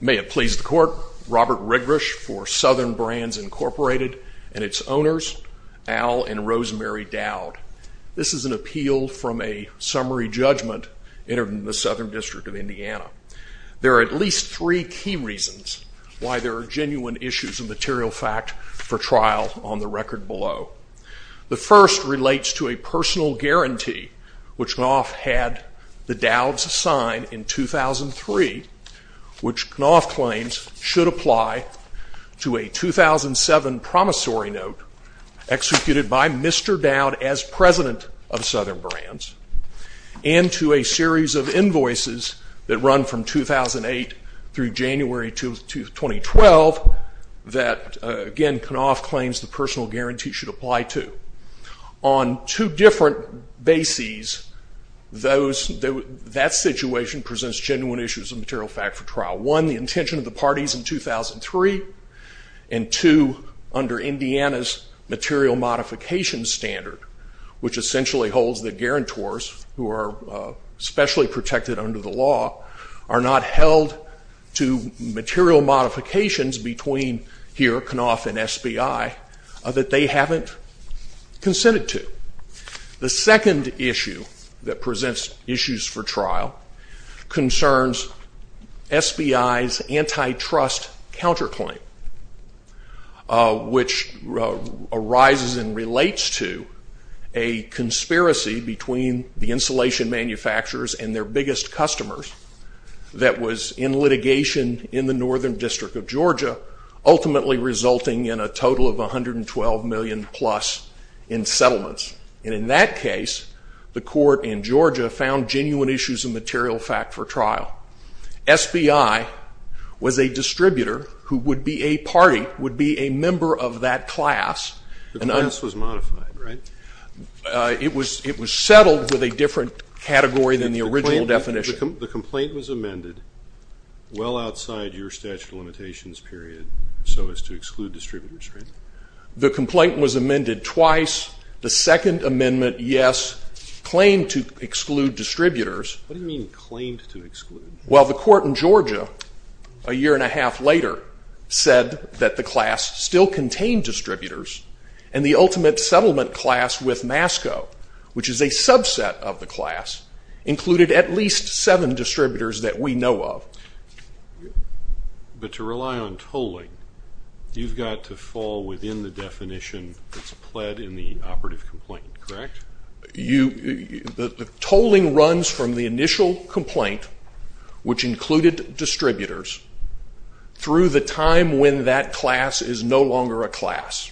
May it please the Court, Robert Rigrish for Southern Brands, Inc. and its owners, Al and Rosemary Dowd. This is an appeal from a summary judgment entered in the Southern District of Indiana. There are at least three key reasons why there are genuine issues of material fact for trial on the record below. The first relates to a personal guarantee, which Knauf had the Dowds sign in 2003, which Knauf claims should apply to a 2007 promissory note executed by Mr. Dowd as president of Southern Brands, and to a series of invoices that run from 2008 through January 2012, that again, Knauf claims the personal guarantee should apply to. On two different bases, that situation presents genuine issues of material fact for trial. One, the intention of the parties in 2003, and two, under Indiana's material modification standard, which essentially holds that guarantors, who are specially protected under the law, are not held to material modifications between here, Knauf and SBI, that they haven't consented to. The second issue that presents issues for trial concerns SBI's antitrust counterclaim, which arises and relates to a conspiracy between the insulation manufacturers and their biggest customers that was in litigation in the Northern District of Georgia, ultimately resulting in a total of $112 million plus in settlements, and in that case, the court in Georgia found genuine issues of material fact for trial. SBI was a distributor who would be a party, would be a member of that class. The class was modified, right? It was settled with a different category than the original definition. The complaint was amended well outside your statute of limitations period so as to exclude distributors, right? The complaint was amended twice. The second amendment, yes, claimed to exclude distributors. What do you mean claimed to exclude? Well the court in Georgia, a year and a half later, said that the class still contained MASCO, which is a subset of the class, included at least seven distributors that we know of. But to rely on tolling, you've got to fall within the definition that's pled in the operative complaint, correct? Tolling runs from the initial complaint, which included distributors, through the time when that class is no longer a class,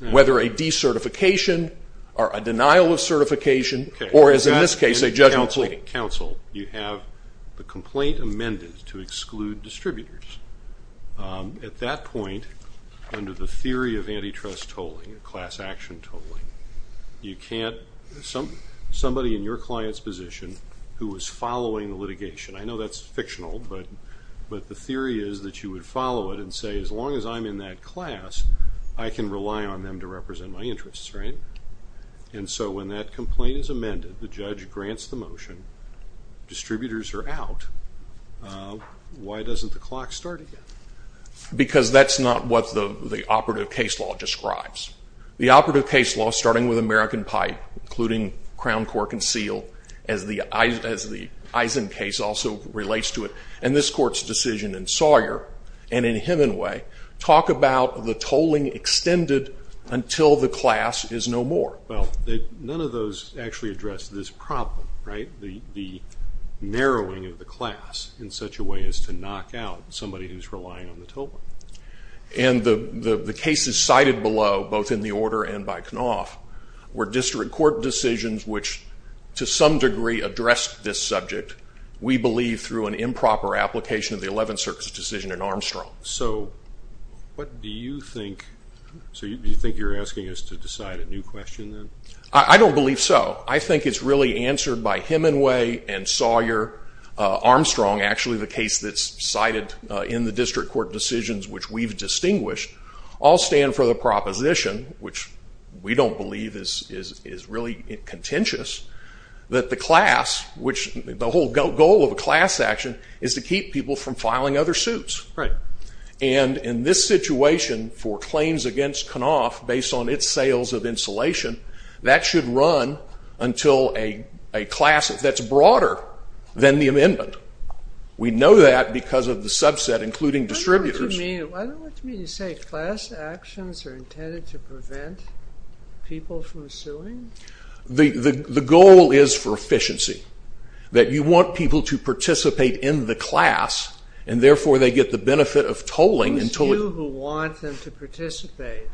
whether a decertification or a denial of certification, or as in this case, a judgment pleading. Counsel, you have the complaint amended to exclude distributors. At that point, under the theory of antitrust tolling, class action tolling, you can't, somebody in your client's position who is following the litigation, I know that's fictional, but the theory is that you would follow it and say, as long as I'm in that class, I can rely on them to represent my interests, right? And so when that complaint is amended, the judge grants the motion, distributors are out, why doesn't the clock start again? Because that's not what the operative case law describes. The operative case law, starting with American Pipe, including Crown Cork and Seal, as the court's decision in Sawyer, and in Hemingway, talk about the tolling extended until the class is no more. Well, none of those actually address this problem, right, the narrowing of the class in such a way as to knock out somebody who's relying on the tolling. And the cases cited below, both in the order and by Knopf, were district court decisions which to some degree address this subject, we believe, through an improper application of the Eleventh Circuit's decision in Armstrong. So what do you think, so you think you're asking us to decide a new question then? I don't believe so. I think it's really answered by Hemingway and Sawyer, Armstrong, actually the case that's cited in the district court decisions which we've distinguished, all stand for the proposition, which we don't believe is really contentious, that the class, which the whole goal of a class action is to keep people from filing other suits. Right. And in this situation, for claims against Knopf, based on its sales of insulation, that should run until a class that's broader than the amendment. We know that because of the subset, including distributors. Why don't you mean to say class actions are intended to prevent people from suing? The goal is for efficiency. That you want people to participate in the class and therefore they get the benefit of tolling. Those of you who want them to participate,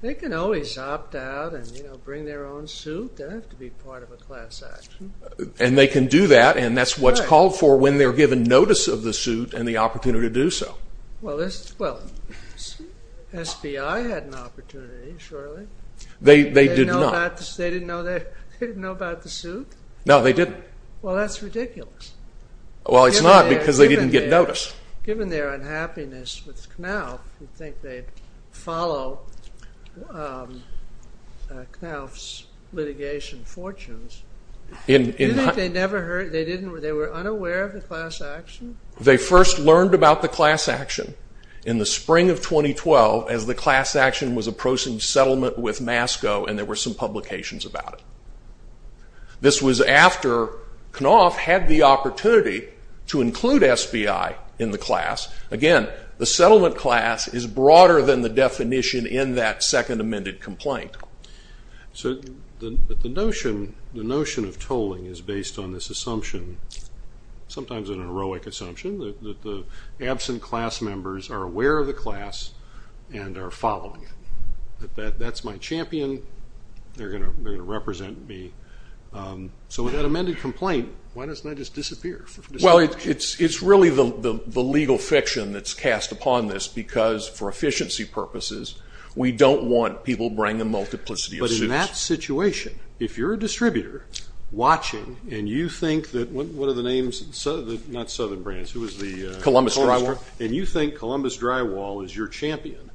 they can always opt out and bring their own suit. They don't have to be part of a class action. And they can do that and that's what's called for when they're given notice of the suit and the opportunity to do so. Well, this, well, SBI had an opportunity, surely. They did not. They didn't know about the suit? No, they didn't. Well, that's ridiculous. Well, it's not because they didn't get notice. Given their unhappiness with Knopf, you'd think they'd follow Knopf's litigation fortunes. You think they never heard, they didn't, they were unaware of the class action? They first learned about the class action in the spring of 2012 as the class action was approaching settlement with MASCO and there were some publications about it. This was after Knopf had the opportunity to include SBI in the class. Again, the settlement class is broader than the definition in that second amended complaint. So the notion of tolling is based on this assumption, sometimes an heroic assumption, that the absent class members are aware of the class and are following it. That's my champion. They're going to represent me. So with that amended complaint, why doesn't that just disappear? Well, it's really the legal fiction that's cast upon this because for efficiency purposes, we don't want people bringing a multiplicity of suits. But in that situation, if you're a distributor watching and you think that, what are the names, not Southern Brands, who was the? Columbus Drywall. And you think Columbus Drywall is your champion.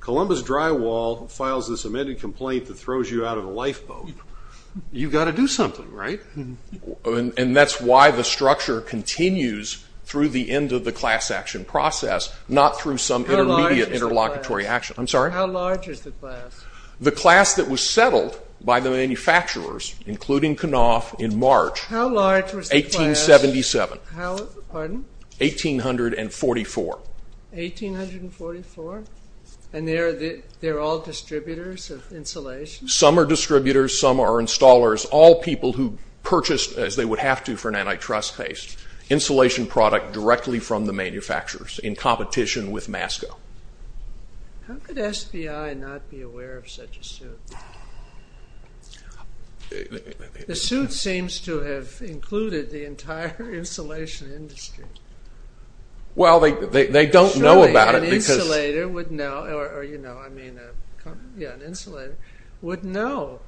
Columbus Drywall files this amended complaint that throws you out of a lifeboat. You've got to do something, right? And that's why the structure continues through the end of the class action process, not through some intermediate interlocutory action. I'm sorry? How large is the class? The class that was settled by the manufacturers, including Knopf in March. How large was the class? 1877. How? Pardon? 1844. 1844? And they're all distributors of insulation? Some are distributors. Some are installers. All people who purchased, as they would have to for an antitrust case, insulation product directly from the manufacturers in competition with Masco. How could SBI not be aware of such a suit? The suit seems to have included the entire insulation industry. Well, they don't know about it because- Surely an insulator would know, or you know, I mean, yeah, an insulator would know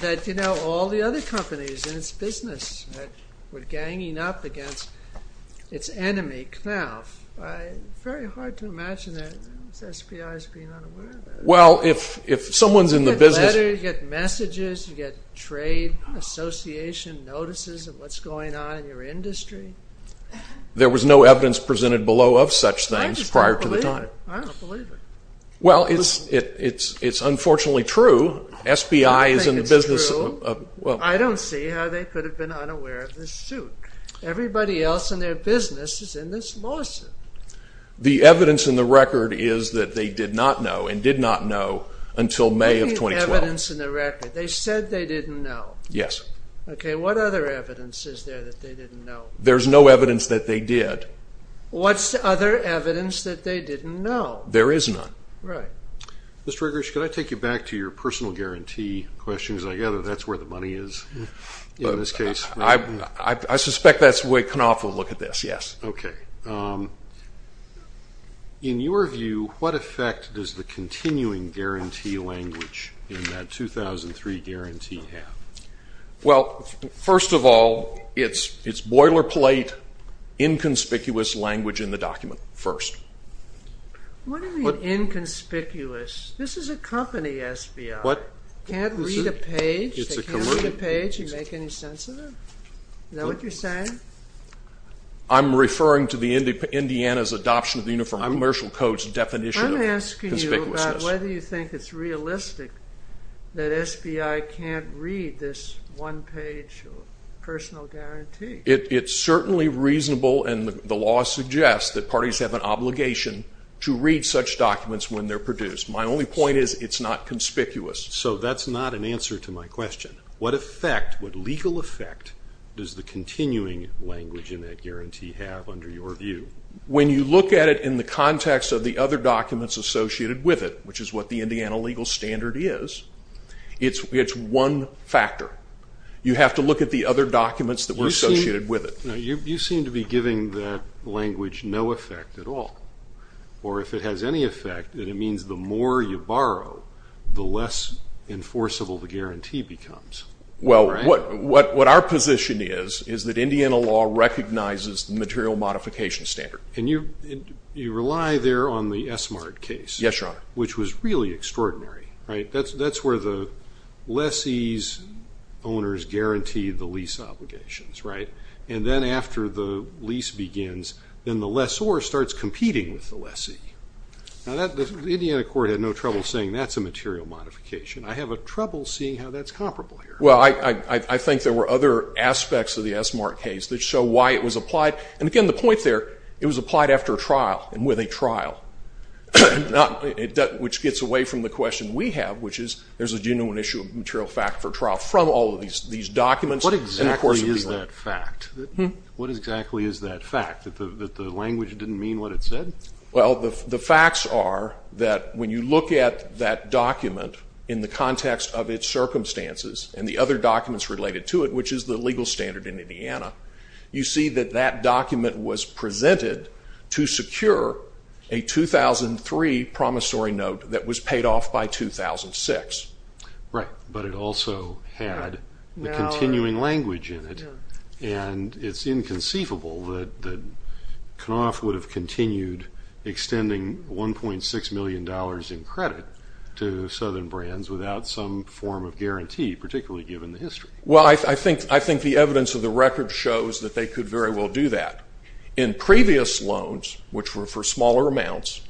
that you know all the other companies in its business that were ganging up against its enemy, Knopf. Very hard to imagine that SBI is being unaware of that. Well, if someone's in the business- You get letters, you get messages, you get trade association notices of what's going on in your industry. There was no evidence presented below of such things prior to the time. I just don't believe it. I don't believe it. Well, it's unfortunately true. SBI is in the business of- I don't see how they could have been unaware of this suit. Everybody else in their business is in this lawsuit. The evidence in the record is that they did not know and did not know until May of 2012. What do you mean evidence in the record? They said they didn't know. Yes. Okay. What other evidence is there that they didn't know? There's no evidence that they did. What's the other evidence that they didn't know? There is none. Right. Mr. Grish, could I take you back to your personal guarantee questions? I gather that's where the money is in this case. I suspect that's where Knopf will look at this. Yes. Okay. In your view, what effect does the continuing guarantee language in that 2003 guarantee have? Well, first of all, it's boilerplate inconspicuous language in the document first. What do you mean inconspicuous? This is a company, SBI. What? Can't read a page? They can't read a page and make any sense of it? Is that what you're saying? I'm referring to Indiana's adoption of the Uniform Commercial Code's definition of conspicuousness. I'm asking you about whether you think it's realistic that SBI can't read this one-page personal guarantee. It's certainly reasonable, and the law suggests that parties have an obligation to read such documents when they're produced. My only point is it's not conspicuous. So that's not an answer to my question. What effect, what legal effect does the continuing language in that guarantee have under your view? When you look at it in the context of the other documents associated with it, which is what the Indiana legal standard is, it's one factor. You have to look at the other documents that were associated with it. You seem to be giving that language no effect at all, or if it has any effect, then it means the more you borrow, the less enforceable the guarantee becomes. Well, what our position is is that Indiana law recognizes the material modification standard. And you rely there on the Essmart case. Yes, Your Honor. Which was really extraordinary, right? That's where the lessee's owners guarantee the lease obligations, right? And then after the lease begins, then the lessor starts competing with the lessee. Now, the Indiana court had no trouble saying that's a material modification. I have trouble seeing how that's comparable here. Well, I think there were other aspects of the Essmart case that show why it was applied. And again, the point there, it was applied after a trial and with a trial, which gets away from the question we have, which is, there's a genuine issue of material fact for trial from all of these documents. What exactly is that fact? What exactly is that fact, that the language didn't mean what it said? Well, the facts are that when you look at that document in the context of its circumstances and the other documents related to it, which is the legal standard in Indiana, you see that that document was presented to secure a 2003 promissory note that was paid off by 2006. Right. But it also had the continuing language in it. And it's inconceivable that Knopf would have continued extending $1.6 million in credit to Southern Brands without some form of guarantee, particularly given the history. Well, I think the evidence of the record shows that they could very well do that. In previous loans, which were for smaller amounts,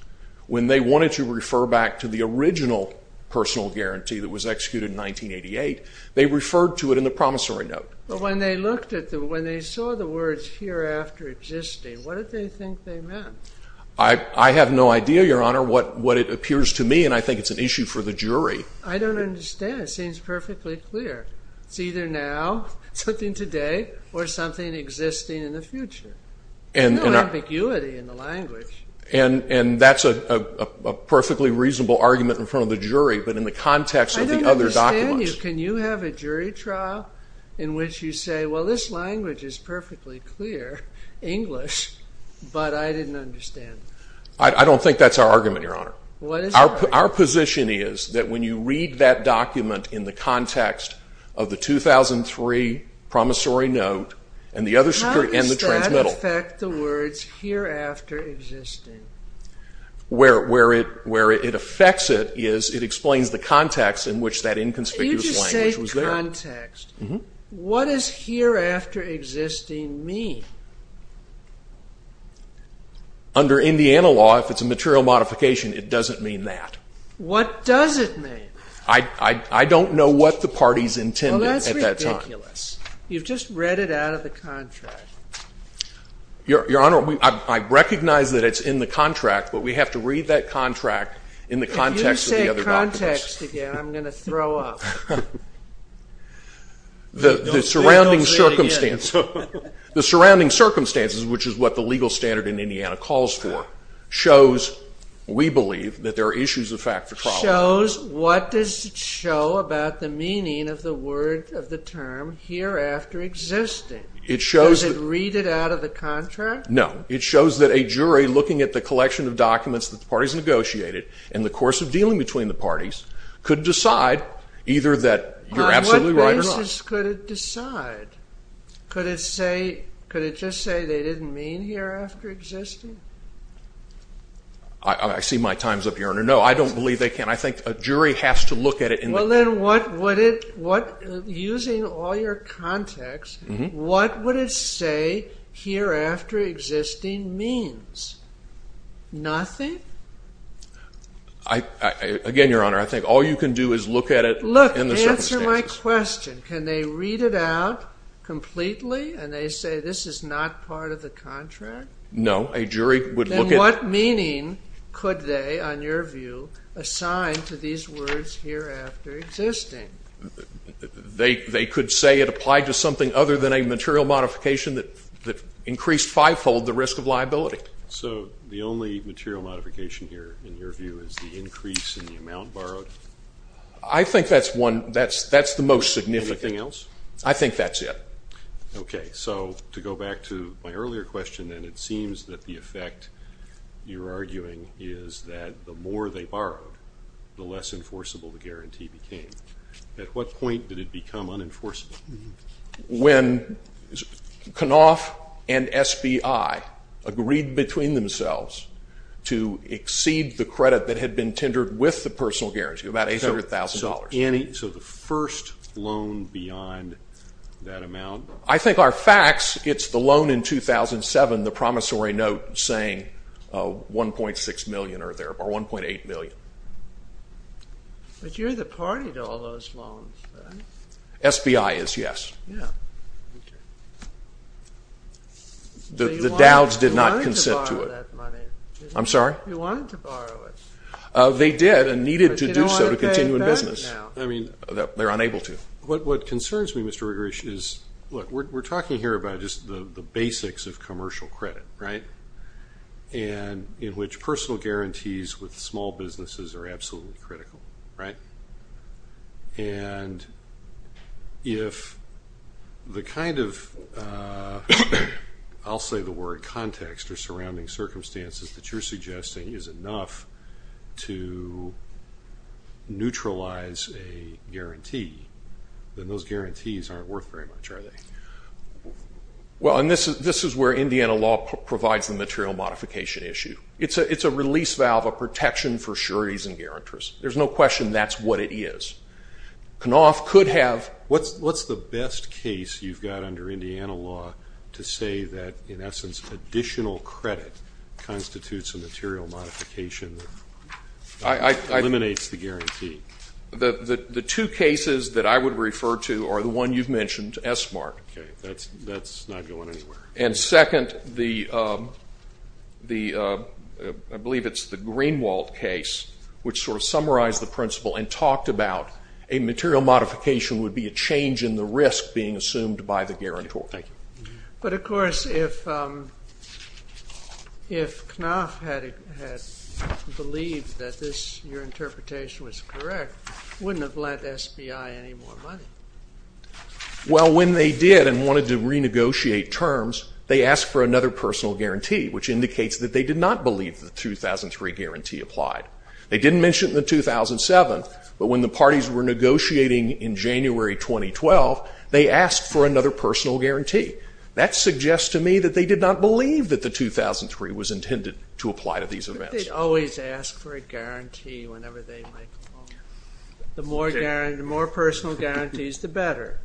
when they wanted to refer back to the original personal guarantee that was executed in 1988, they referred to it in the promissory note. But when they saw the words hereafter existing, what did they think they meant? I have no idea, Your Honor, what it appears to me. And I think it's an issue for the jury. I don't understand. It seems perfectly clear. It's either now, something today, or something existing in the future. There's no ambiguity in the language. And that's a perfectly reasonable argument in front of the jury, but in the context of the other documents. Can you have a jury trial in which you say, well, this language is perfectly clear, English, but I didn't understand? I don't think that's our argument, Your Honor. Our position is that when you read that document in the context of the 2003 promissory note and the other security and the transmittal. How does that affect the words hereafter existing? Where it affects it is it explains the context in which that inconspicuous language was there. When you say context, what does hereafter existing mean? Under Indiana law, if it's a material modification, it doesn't mean that. What does it mean? I don't know what the parties intended at that time. Well, that's ridiculous. You've just read it out of the contract. Your Honor, I recognize that it's in the contract, but we have to read that contract in the context of the other documents. If you say context again, I'm going to throw up. Don't say it again. The surrounding circumstances, which is what the legal standard in Indiana calls for, shows, we believe, that there are issues of fact for trial. What does it show about the meaning of the word of the term hereafter existing? It shows that... Does it read it out of the contract? No. It shows that a jury looking at the collection of documents that the parties negotiated in the course of dealing between the parties could decide either that you're absolutely right or not. On what basis could it decide? Could it just say they didn't mean hereafter existing? I see my time's up, Your Honor. No, I don't believe they can. I think a jury has to look at it in the... Well, then, using all your context, what would it say hereafter existing means? Nothing? Again, Your Honor, I think all you can do is look at it in the circumstances. Look, answer my question. Can they read it out completely and they say this is not part of the contract? No. A jury would look at... Then what meaning could they, on your view, assign to these words hereafter existing? They could say it applied to something other than a material modification that increased fivefold the risk of liability. So the only material modification here, in your view, is the increase in the amount borrowed? I think that's the most significant. Anything else? I think that's it. Okay. So to go back to my earlier question, and it seems that the effect you're arguing is that the more they borrowed, the less enforceable the guarantee became. At what point did it become unenforceable? When Knopf and SBI agreed between themselves to exceed the credit that had been tendered with the personal guarantee, about $800,000. So the first loan beyond that amount? I think our facts, it's the loan in 2007, the promissory note saying $1.6 million or $1.8 million. But you're the party to all those loans. SBI is, yes. The Dows did not consent to it. I'm sorry? You wanted to borrow it. They did and needed to do so to continue in business. I mean, they're unable to. What concerns me, Mr. Regrish, is, look, we're talking here about just the basics of commercial credit, right? And in which personal guarantees with small businesses are absolutely critical, right? And if the kind of, I'll say the word, context or surrounding circumstances that you're suggesting is enough to neutralize a guarantee, then those guarantees aren't worth very much, are they? Well, and this is where Indiana law provides the material modification issue. It's a release valve, a protection for sureties and guarantors. There's no question that's what it is. Knopf could have... What's the best case you've got under Indiana law to say that, in essence, additional credit constitutes a material modification that eliminates the guarantee? The two cases that I would refer to are the one you've mentioned, SBART. Okay, that's not going anywhere. And second, I believe it's the Greenwald case, which sort of summarized the principle and talked about a material modification would be a change in the risk being assumed by the guarantor. Thank you. But, of course, if Knopf had believed that your interpretation was correct, wouldn't have lent SBI any more money. Well, when they did and wanted to renegotiate terms, they asked for another personal guarantee, which indicates that they did not believe the 2003 guarantee applied. They didn't mention it in 2007, but when the parties were negotiating in January 2012, they asked for another personal guarantee. That suggests to me that they did not believe that the 2003 was intended to apply to these events. But they always ask for a guarantee whenever they might call. The more personal guarantees, the better,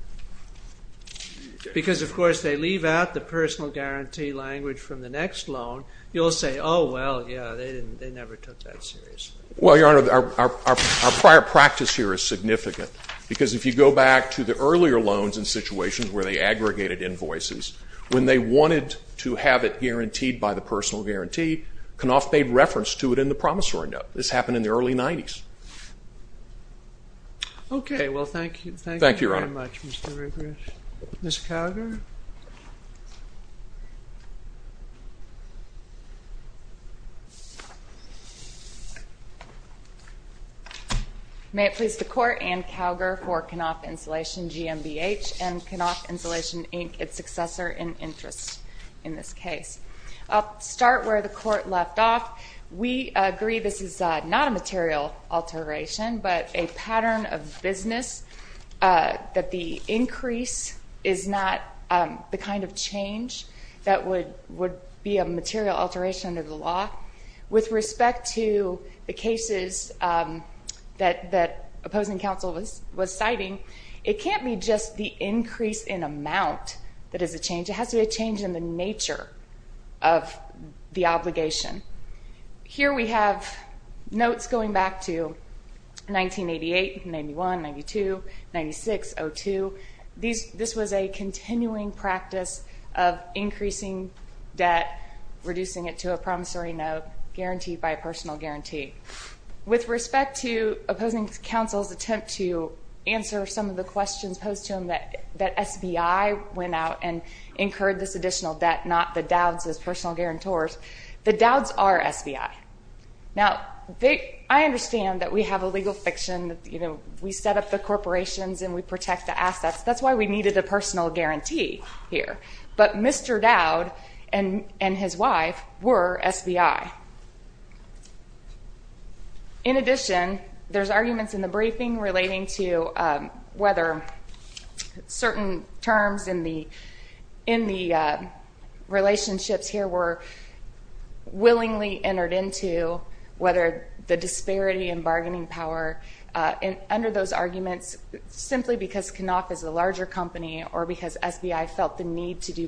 because, of course, they leave out the personal guarantee language from the next loan. You'll say, oh, well, yeah, they never took that seriously. Well, Your Honor, our prior practice here is significant because if you go back to the earlier loans and situations where they aggregated invoices, when they wanted to have it guaranteed by the personal guarantee, Knopf made reference to it in the promissory note. This happened in the early 90s. Okay, well, thank you very much, Mr. Regrish. Ms. Kalger? May it please the Court, Ann Kalger for Knopf Insulation, GMBH, and Knopf Insulation, Inc., its successor in interest in this case. I'll start where the Court left off. We agree this is not a material alteration, but a pattern of business that the increase is not the kind of change that would be a material alteration under the law. With respect to the cases that opposing counsel was citing, it can't be just the increase in amount that is a change. It has to be a change in the nature of the obligation. Here we have notes going back to 1988, 91, 92, 96, 02. This was a continuing practice of increasing debt, reducing it to a promissory note guaranteed by a personal guarantee. With respect to opposing counsel's attempt to answer some of the questions posed to him that SBI went out and incurred this additional debt, not the Dowds as personal guarantors, the Dowds are SBI. Now, I understand that we have a legal fiction, you know, we set up the corporations and we protect the assets. That's why we needed a personal guarantee here. But Mr. Dowd and his wife were SBI. In addition, there's arguments in the briefing relating to whether certain terms in the relationships here were willingly entered into, whether the disparity in bargaining power, under those arguments, simply because Knopf is a larger company or because SBI felt the need to do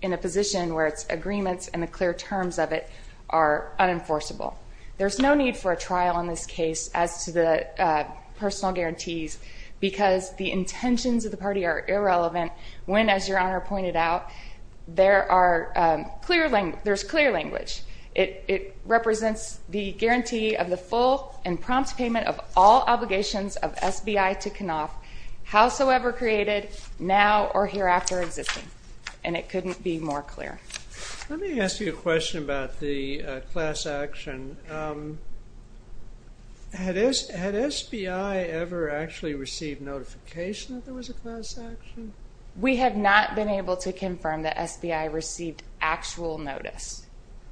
in a position where its agreements and the clear terms of it are unenforceable. There's no need for a trial in this case as to the personal guarantees because the intentions of the party are irrelevant when, as Your Honor pointed out, there's clear language. It represents the guarantee of the full and prompt payment of all obligations of SBI to Knopf, howsoever created, now or hereafter existing. And it couldn't be more clear. Let me ask you a question about the class action. Had SBI ever actually received notification that there was a class action? We have not been able to confirm that SBI received actual notice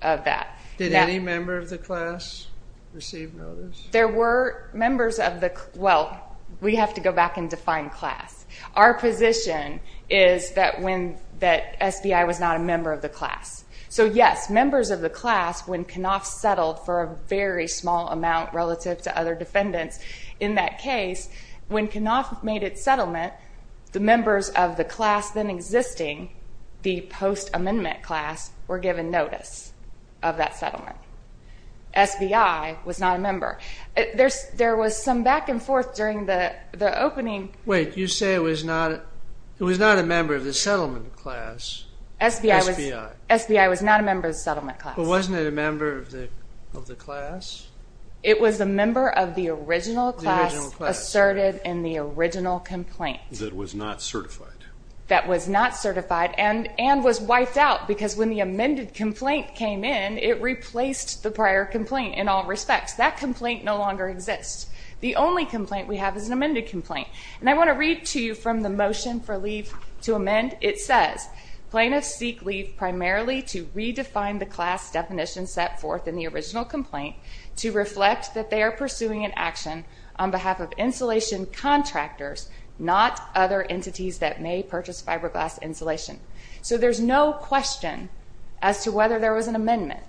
of that. Did any member of the class receive notice? There were members of the, well, we have to go back and define class. Our position is that SBI was not a member of the class. So yes, members of the class, when Knopf settled for a very small amount relative to other defendants in that case, when Knopf made its settlement, the members of the class then existing, the post-amendment class, were given notice of that settlement. SBI was not a member. There was some back and forth during the opening. Wait, you say it was not a member of the settlement class. SBI was not a member of the settlement class. But wasn't it a member of the class? It was a member of the original class asserted in the original complaint. That was not certified. That was not certified and was wiped out because when the amended complaint came in, it replaced the prior complaint in all respects. That complaint no longer exists. The only complaint we have is an amended complaint. And I want to read to you from the motion for leave to amend. It says, plaintiffs seek leave primarily to redefine the class definition set forth in the original complaint to reflect that they are pursuing an action on behalf of insulation contractors, not other entities that may purchase fiberglass insulation. So there's no question as to whether there was an amendment.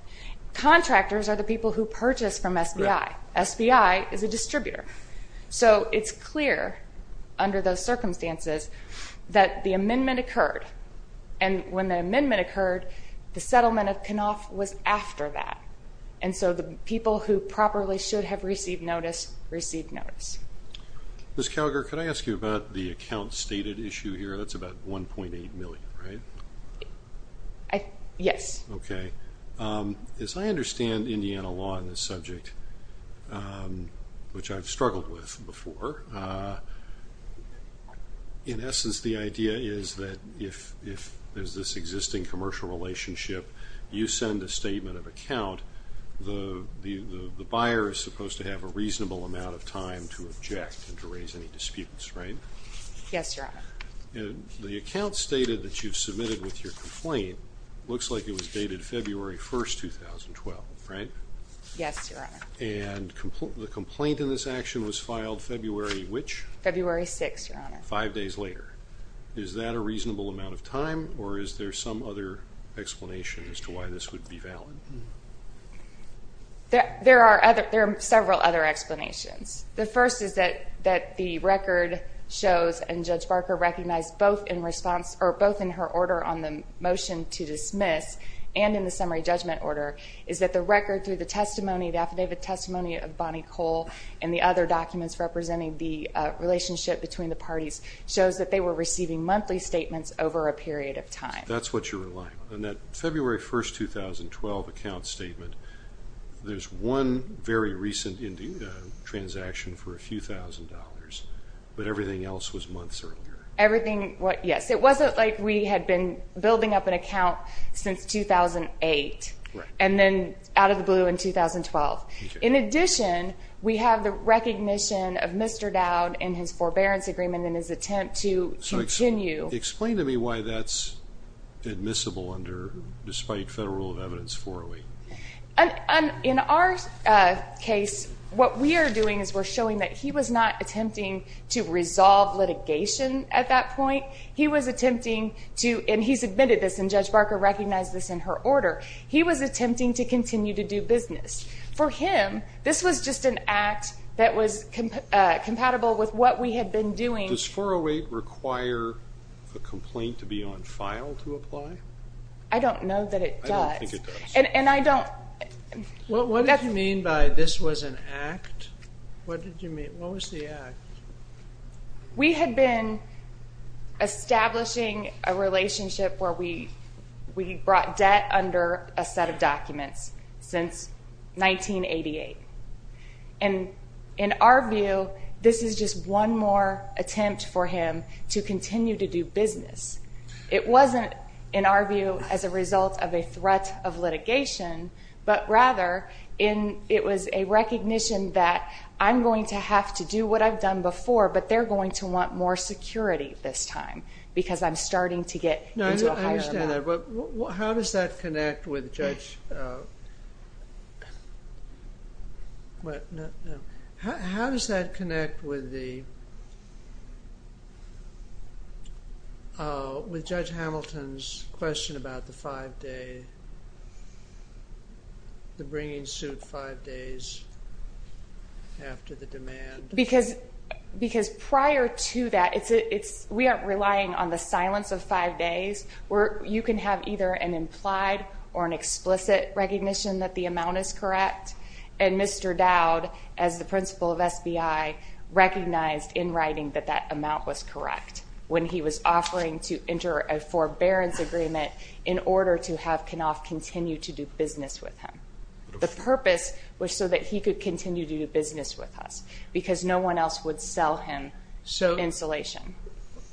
Contractors are the people who purchase from SBI. SBI is a distributor. So it's clear under those circumstances that the amendment occurred. And when the amendment occurred, the settlement of Knopf was after that. And so the people who properly should have received notice, received notice. Ms. Calgar, could I ask you about the account stated issue here? That's about $1.8 million, right? Yes. Okay. As I understand Indiana law in this subject, which I've struggled with before, in essence, the idea is that if there's this existing commercial relationship, you send a statement of account, the buyer is supposed to have a reasonable amount of time to object and to raise any disputes, right? Yes, Your Honor. The account stated that you've submitted with your complaint, looks like it was dated February 1st, 2012, right? Yes, Your Honor. And the complaint in this action was filed February which? February 6th, Your Honor. Five days later. Is that a reasonable amount of time or is there some other explanation as to why this would be valid? There are several other explanations. The first is that the record shows, and Judge Barker recognized both in response, or both in her order on the motion to dismiss and in the summary judgment order, is that the record through the testimony, the affidavit testimony of Bonnie Cole and the other documents representing the relationship between the parties shows that they were receiving monthly statements over a period of time. That's what you're relying on. February 1st, 2012, account statement, there's one very recent transaction for a few thousand dollars, but everything else was months earlier. Everything, yes. It wasn't like we had been building up an account since 2008, and then out of the blue in 2012. In addition, we have the recognition of Mr. Dowd and his forbearance agreement and his attempt to continue. Explain to me why that's admissible under, despite federal rule of evidence, 408. In our case, what we are doing is we're showing that he was not attempting to resolve litigation at that point. He was attempting to, and he's admitted this, and Judge Barker recognized this in her order, he was attempting to continue to do business. For him, this was just an act that was compatible with what we had been doing. Does 408 require a complaint to be on file to apply? I don't know that it does. I don't think it does. And I don't... What did you mean by this was an act? What did you mean? What was the act? We had been establishing a relationship where we brought debt under a set of documents since 1988. And in our view, this is just one more attempt for him to continue to do business. It wasn't, in our view, as a result of a threat of litigation, but rather it was a recognition that I'm going to have to do what I've done before, but they're going to want more security this time because I'm starting to get into a higher amount. I understand that, but how does that connect with Judge... What? No. How does that connect with the... With Judge Hamilton's question about the five-day, the bringing suit five days after the demand? Because prior to that, we aren't relying on the silence of five days where you can have either an implied or an explicit recognition that the amount is correct. And Mr. Dowd, as the principal of SBI, recognized in writing that that amount was correct when he was offering to enter a forbearance agreement in order to have Knopf continue to do business with him. The purpose was so that he could continue to do business with us because no one else would sell him insulation.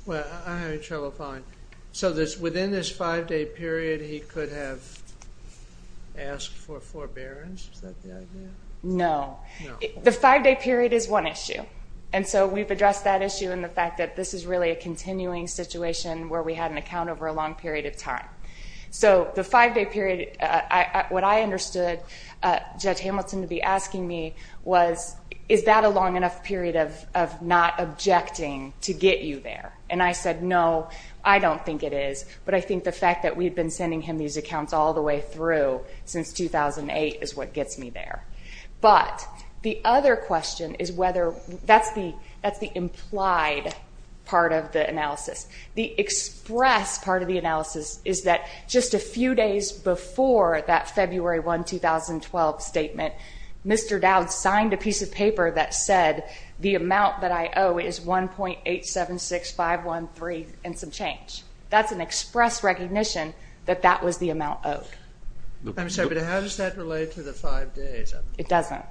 Well, I'm having trouble following. So within this five-day period, he could have asked for forbearance? Is that the idea? No. The five-day period is one issue. And so we've addressed that issue and the fact that this is really a continuing situation where we had an account over a long period of time. So the five-day period, what I understood Judge Hamilton to be asking me was, is that a long enough period of not objecting to get you there? And I said, no, I don't think it is. But I think the fact that we've been sending him these accounts all the way through since 2008 is what gets me there. But the other question is whether that's the implied part of the analysis. The express part of the analysis is that just a few days before that February 1, 2012 statement, Mr. Dowd signed a piece of paper that said the amount that I owe is 1.876513 and some change. That's an express recognition that that was the amount owed. I'm sorry, but how does that relate to the five days? It doesn't.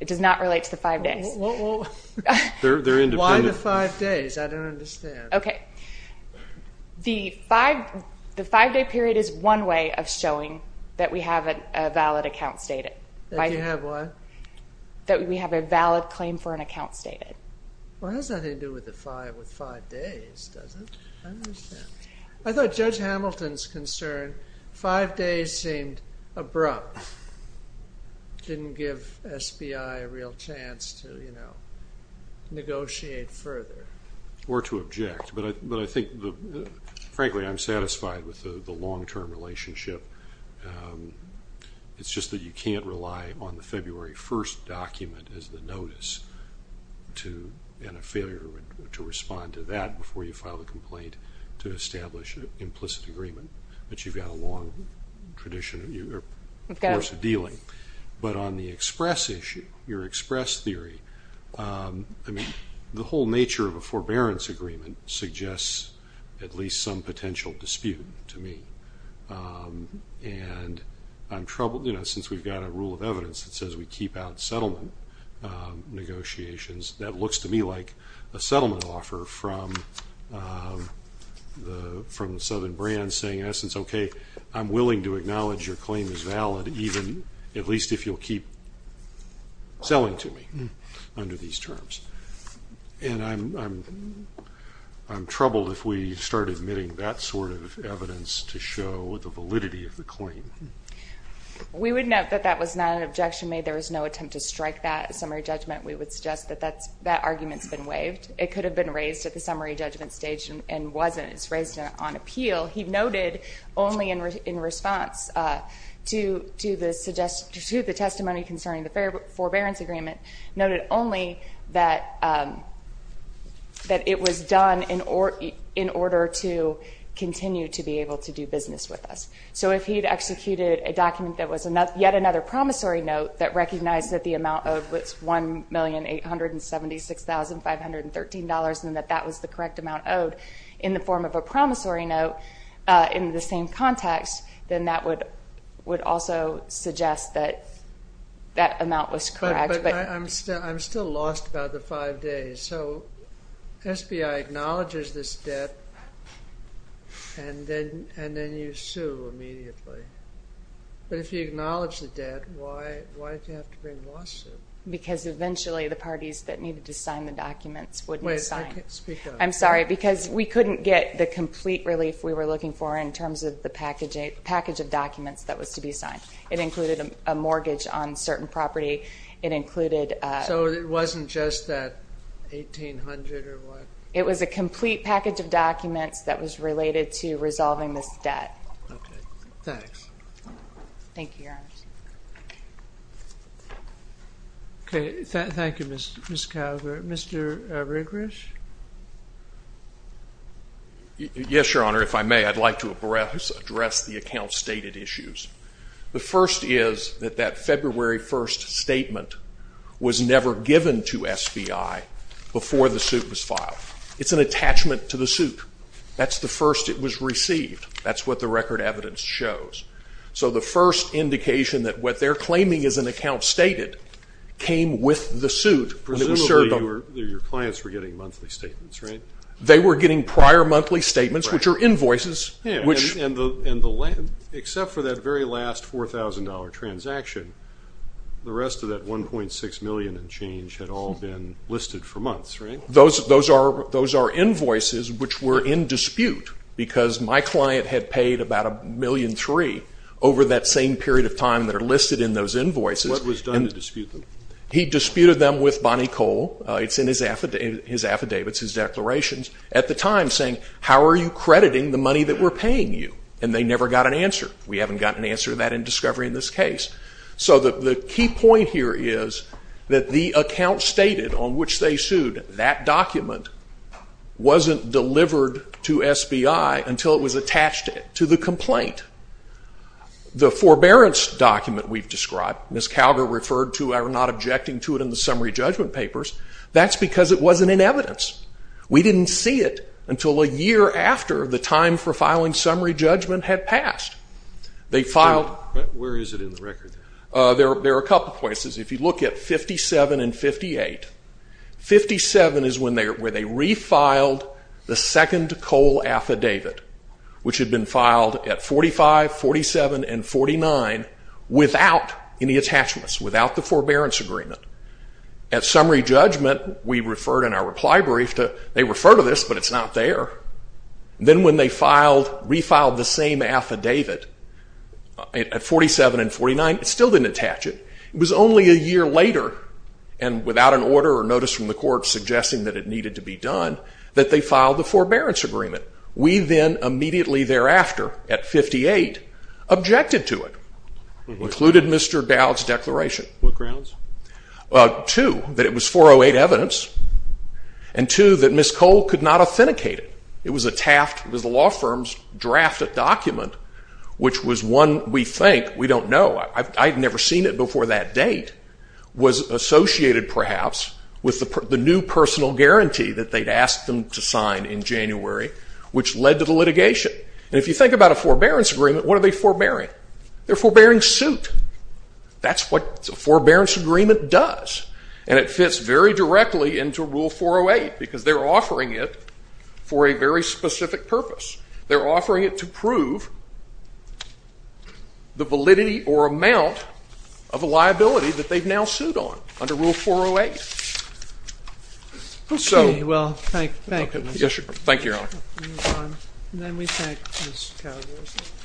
It does not relate to the five days. Well, they're independent. Why the five days? I don't understand. OK. The five-day period is one way of showing that we have a valid account stated. That you have what? That we have a valid claim for an account stated. Well, it has nothing to do with five days, does it? I don't understand. I thought Judge Hamilton's concern five days seemed abrupt. Didn't give SBI a real chance to negotiate further. Or to object. But I think, frankly, I'm satisfied with the long-term relationship. It's just that you can't rely on the February 1 document as the notice to, and a failure to respond to that before you file a complaint to establish an implicit agreement. But you've got a long course of dealing. But on the express issue, your express theory, I mean, the whole nature of a forbearance agreement suggests at least some potential dispute to me. And I'm troubled, you know, since we've got a rule of evidence that says we keep out settlement negotiations, that looks to me like a settlement offer from the southern brands saying, in essence, okay, I'm willing to acknowledge your claim is valid, even at least if you'll keep selling to me under these terms. And I'm troubled if we start admitting that sort of evidence to show the validity of the claim. We would note that that was not an objection made. There was no attempt to strike that as summary judgment. We would suggest that that argument's been waived. It could have been raised at the summary judgment stage and wasn't. It's raised on appeal. He noted only in response to the testimony concerning the forbearance agreement, noted only that it was done in order to continue to be able to do business with us. So if he'd executed a document that was yet another promissory note that recognized that the amount owed was $1,876,513 and that that was the correct amount owed in the form of a promissory note in the same context, then that would also suggest that that amount was correct. But I'm still lost about the five days. So SBI acknowledges this debt and then you sue immediately. But if you acknowledge the debt, why did you have to bring a lawsuit? Because eventually the parties that needed to sign the documents wouldn't sign. Wait, speak up. I'm sorry, because we couldn't get the complete relief we were looking for in terms of the package of documents that was to be signed. It included a mortgage on certain property. It included... So it wasn't just that $1,800 or what? It was a complete package of documents that was related to resolving this debt. Okay, thanks. Thank you, Your Honor. Okay, thank you, Ms. Calvert. Mr. Rigrish? Yes, Your Honor. If I may, I'd like to address the account's stated issues. The first is that that February 1st statement was never given to SBI before the suit was filed. It's an attachment to the suit. That's the first it was received. That's what the record evidence shows. So the first indication that what they're claiming is an account stated came with the suit. Presumably your clients were getting monthly statements, right? They were getting prior monthly statements, which are invoices. Yeah, and except for that very last $4,000 transaction, the rest of that $1.6 million and change had all been listed for months, right? Those are invoices which were in dispute because my client had paid about $1.3 million over that same period of time that are listed in those invoices. What was done to dispute them? He disputed them with Bonnie Cole. It's in his affidavits, his declarations at the time saying, how are you crediting the money that we're paying you? And they never got an answer. We haven't gotten an answer to that in discovery in this case. So the key point here is that the account stated on which they sued, that document wasn't delivered to SBI until it was attached to the complaint. The forbearance document we've described, Ms. Calgar referred to, I'm not objecting to it in the summary judgment papers, that's because it wasn't in evidence. We didn't see it until a year after the time for filing summary judgment had passed. There are a couple places. If you look at 57 and 58, 57 is where they refiled the second Cole affidavit, which had been filed at 45, 47, and 49 without any attachments, without the forbearance agreement. At summary judgment, we referred in our reply brief to, they refer to this, but it's not there. Then when they refiled the same affidavit at 47 and 49, it still didn't attach it. It was only a year later, and without an order or notice from the court suggesting that it needed to be done, that they filed the forbearance agreement. We then immediately thereafter at 58 objected to it, included Mr. Dowd's declaration. What grounds? Two, that it was 408 evidence, and two, that Ms. Cole could not authenticate it. It was a Taft, it was the law firm's draft of document, which was one we think, we don't know, I've never seen it before that date, was associated perhaps with the new personal guarantee that they'd asked them to sign in January, which led to the litigation. If you think about a forbearance agreement, what are they forbearing? They're forbearing suit. That's what a forbearance agreement does, and it fits very directly into Rule 408, because they're offering it for a very specific purpose. They're offering it to prove the validity or amount of a liability that they've now sued on under Rule 408. Okay, well, thank you. Yes, sir. Thank you, Your Honor. Then we thank Ms. Cowdery.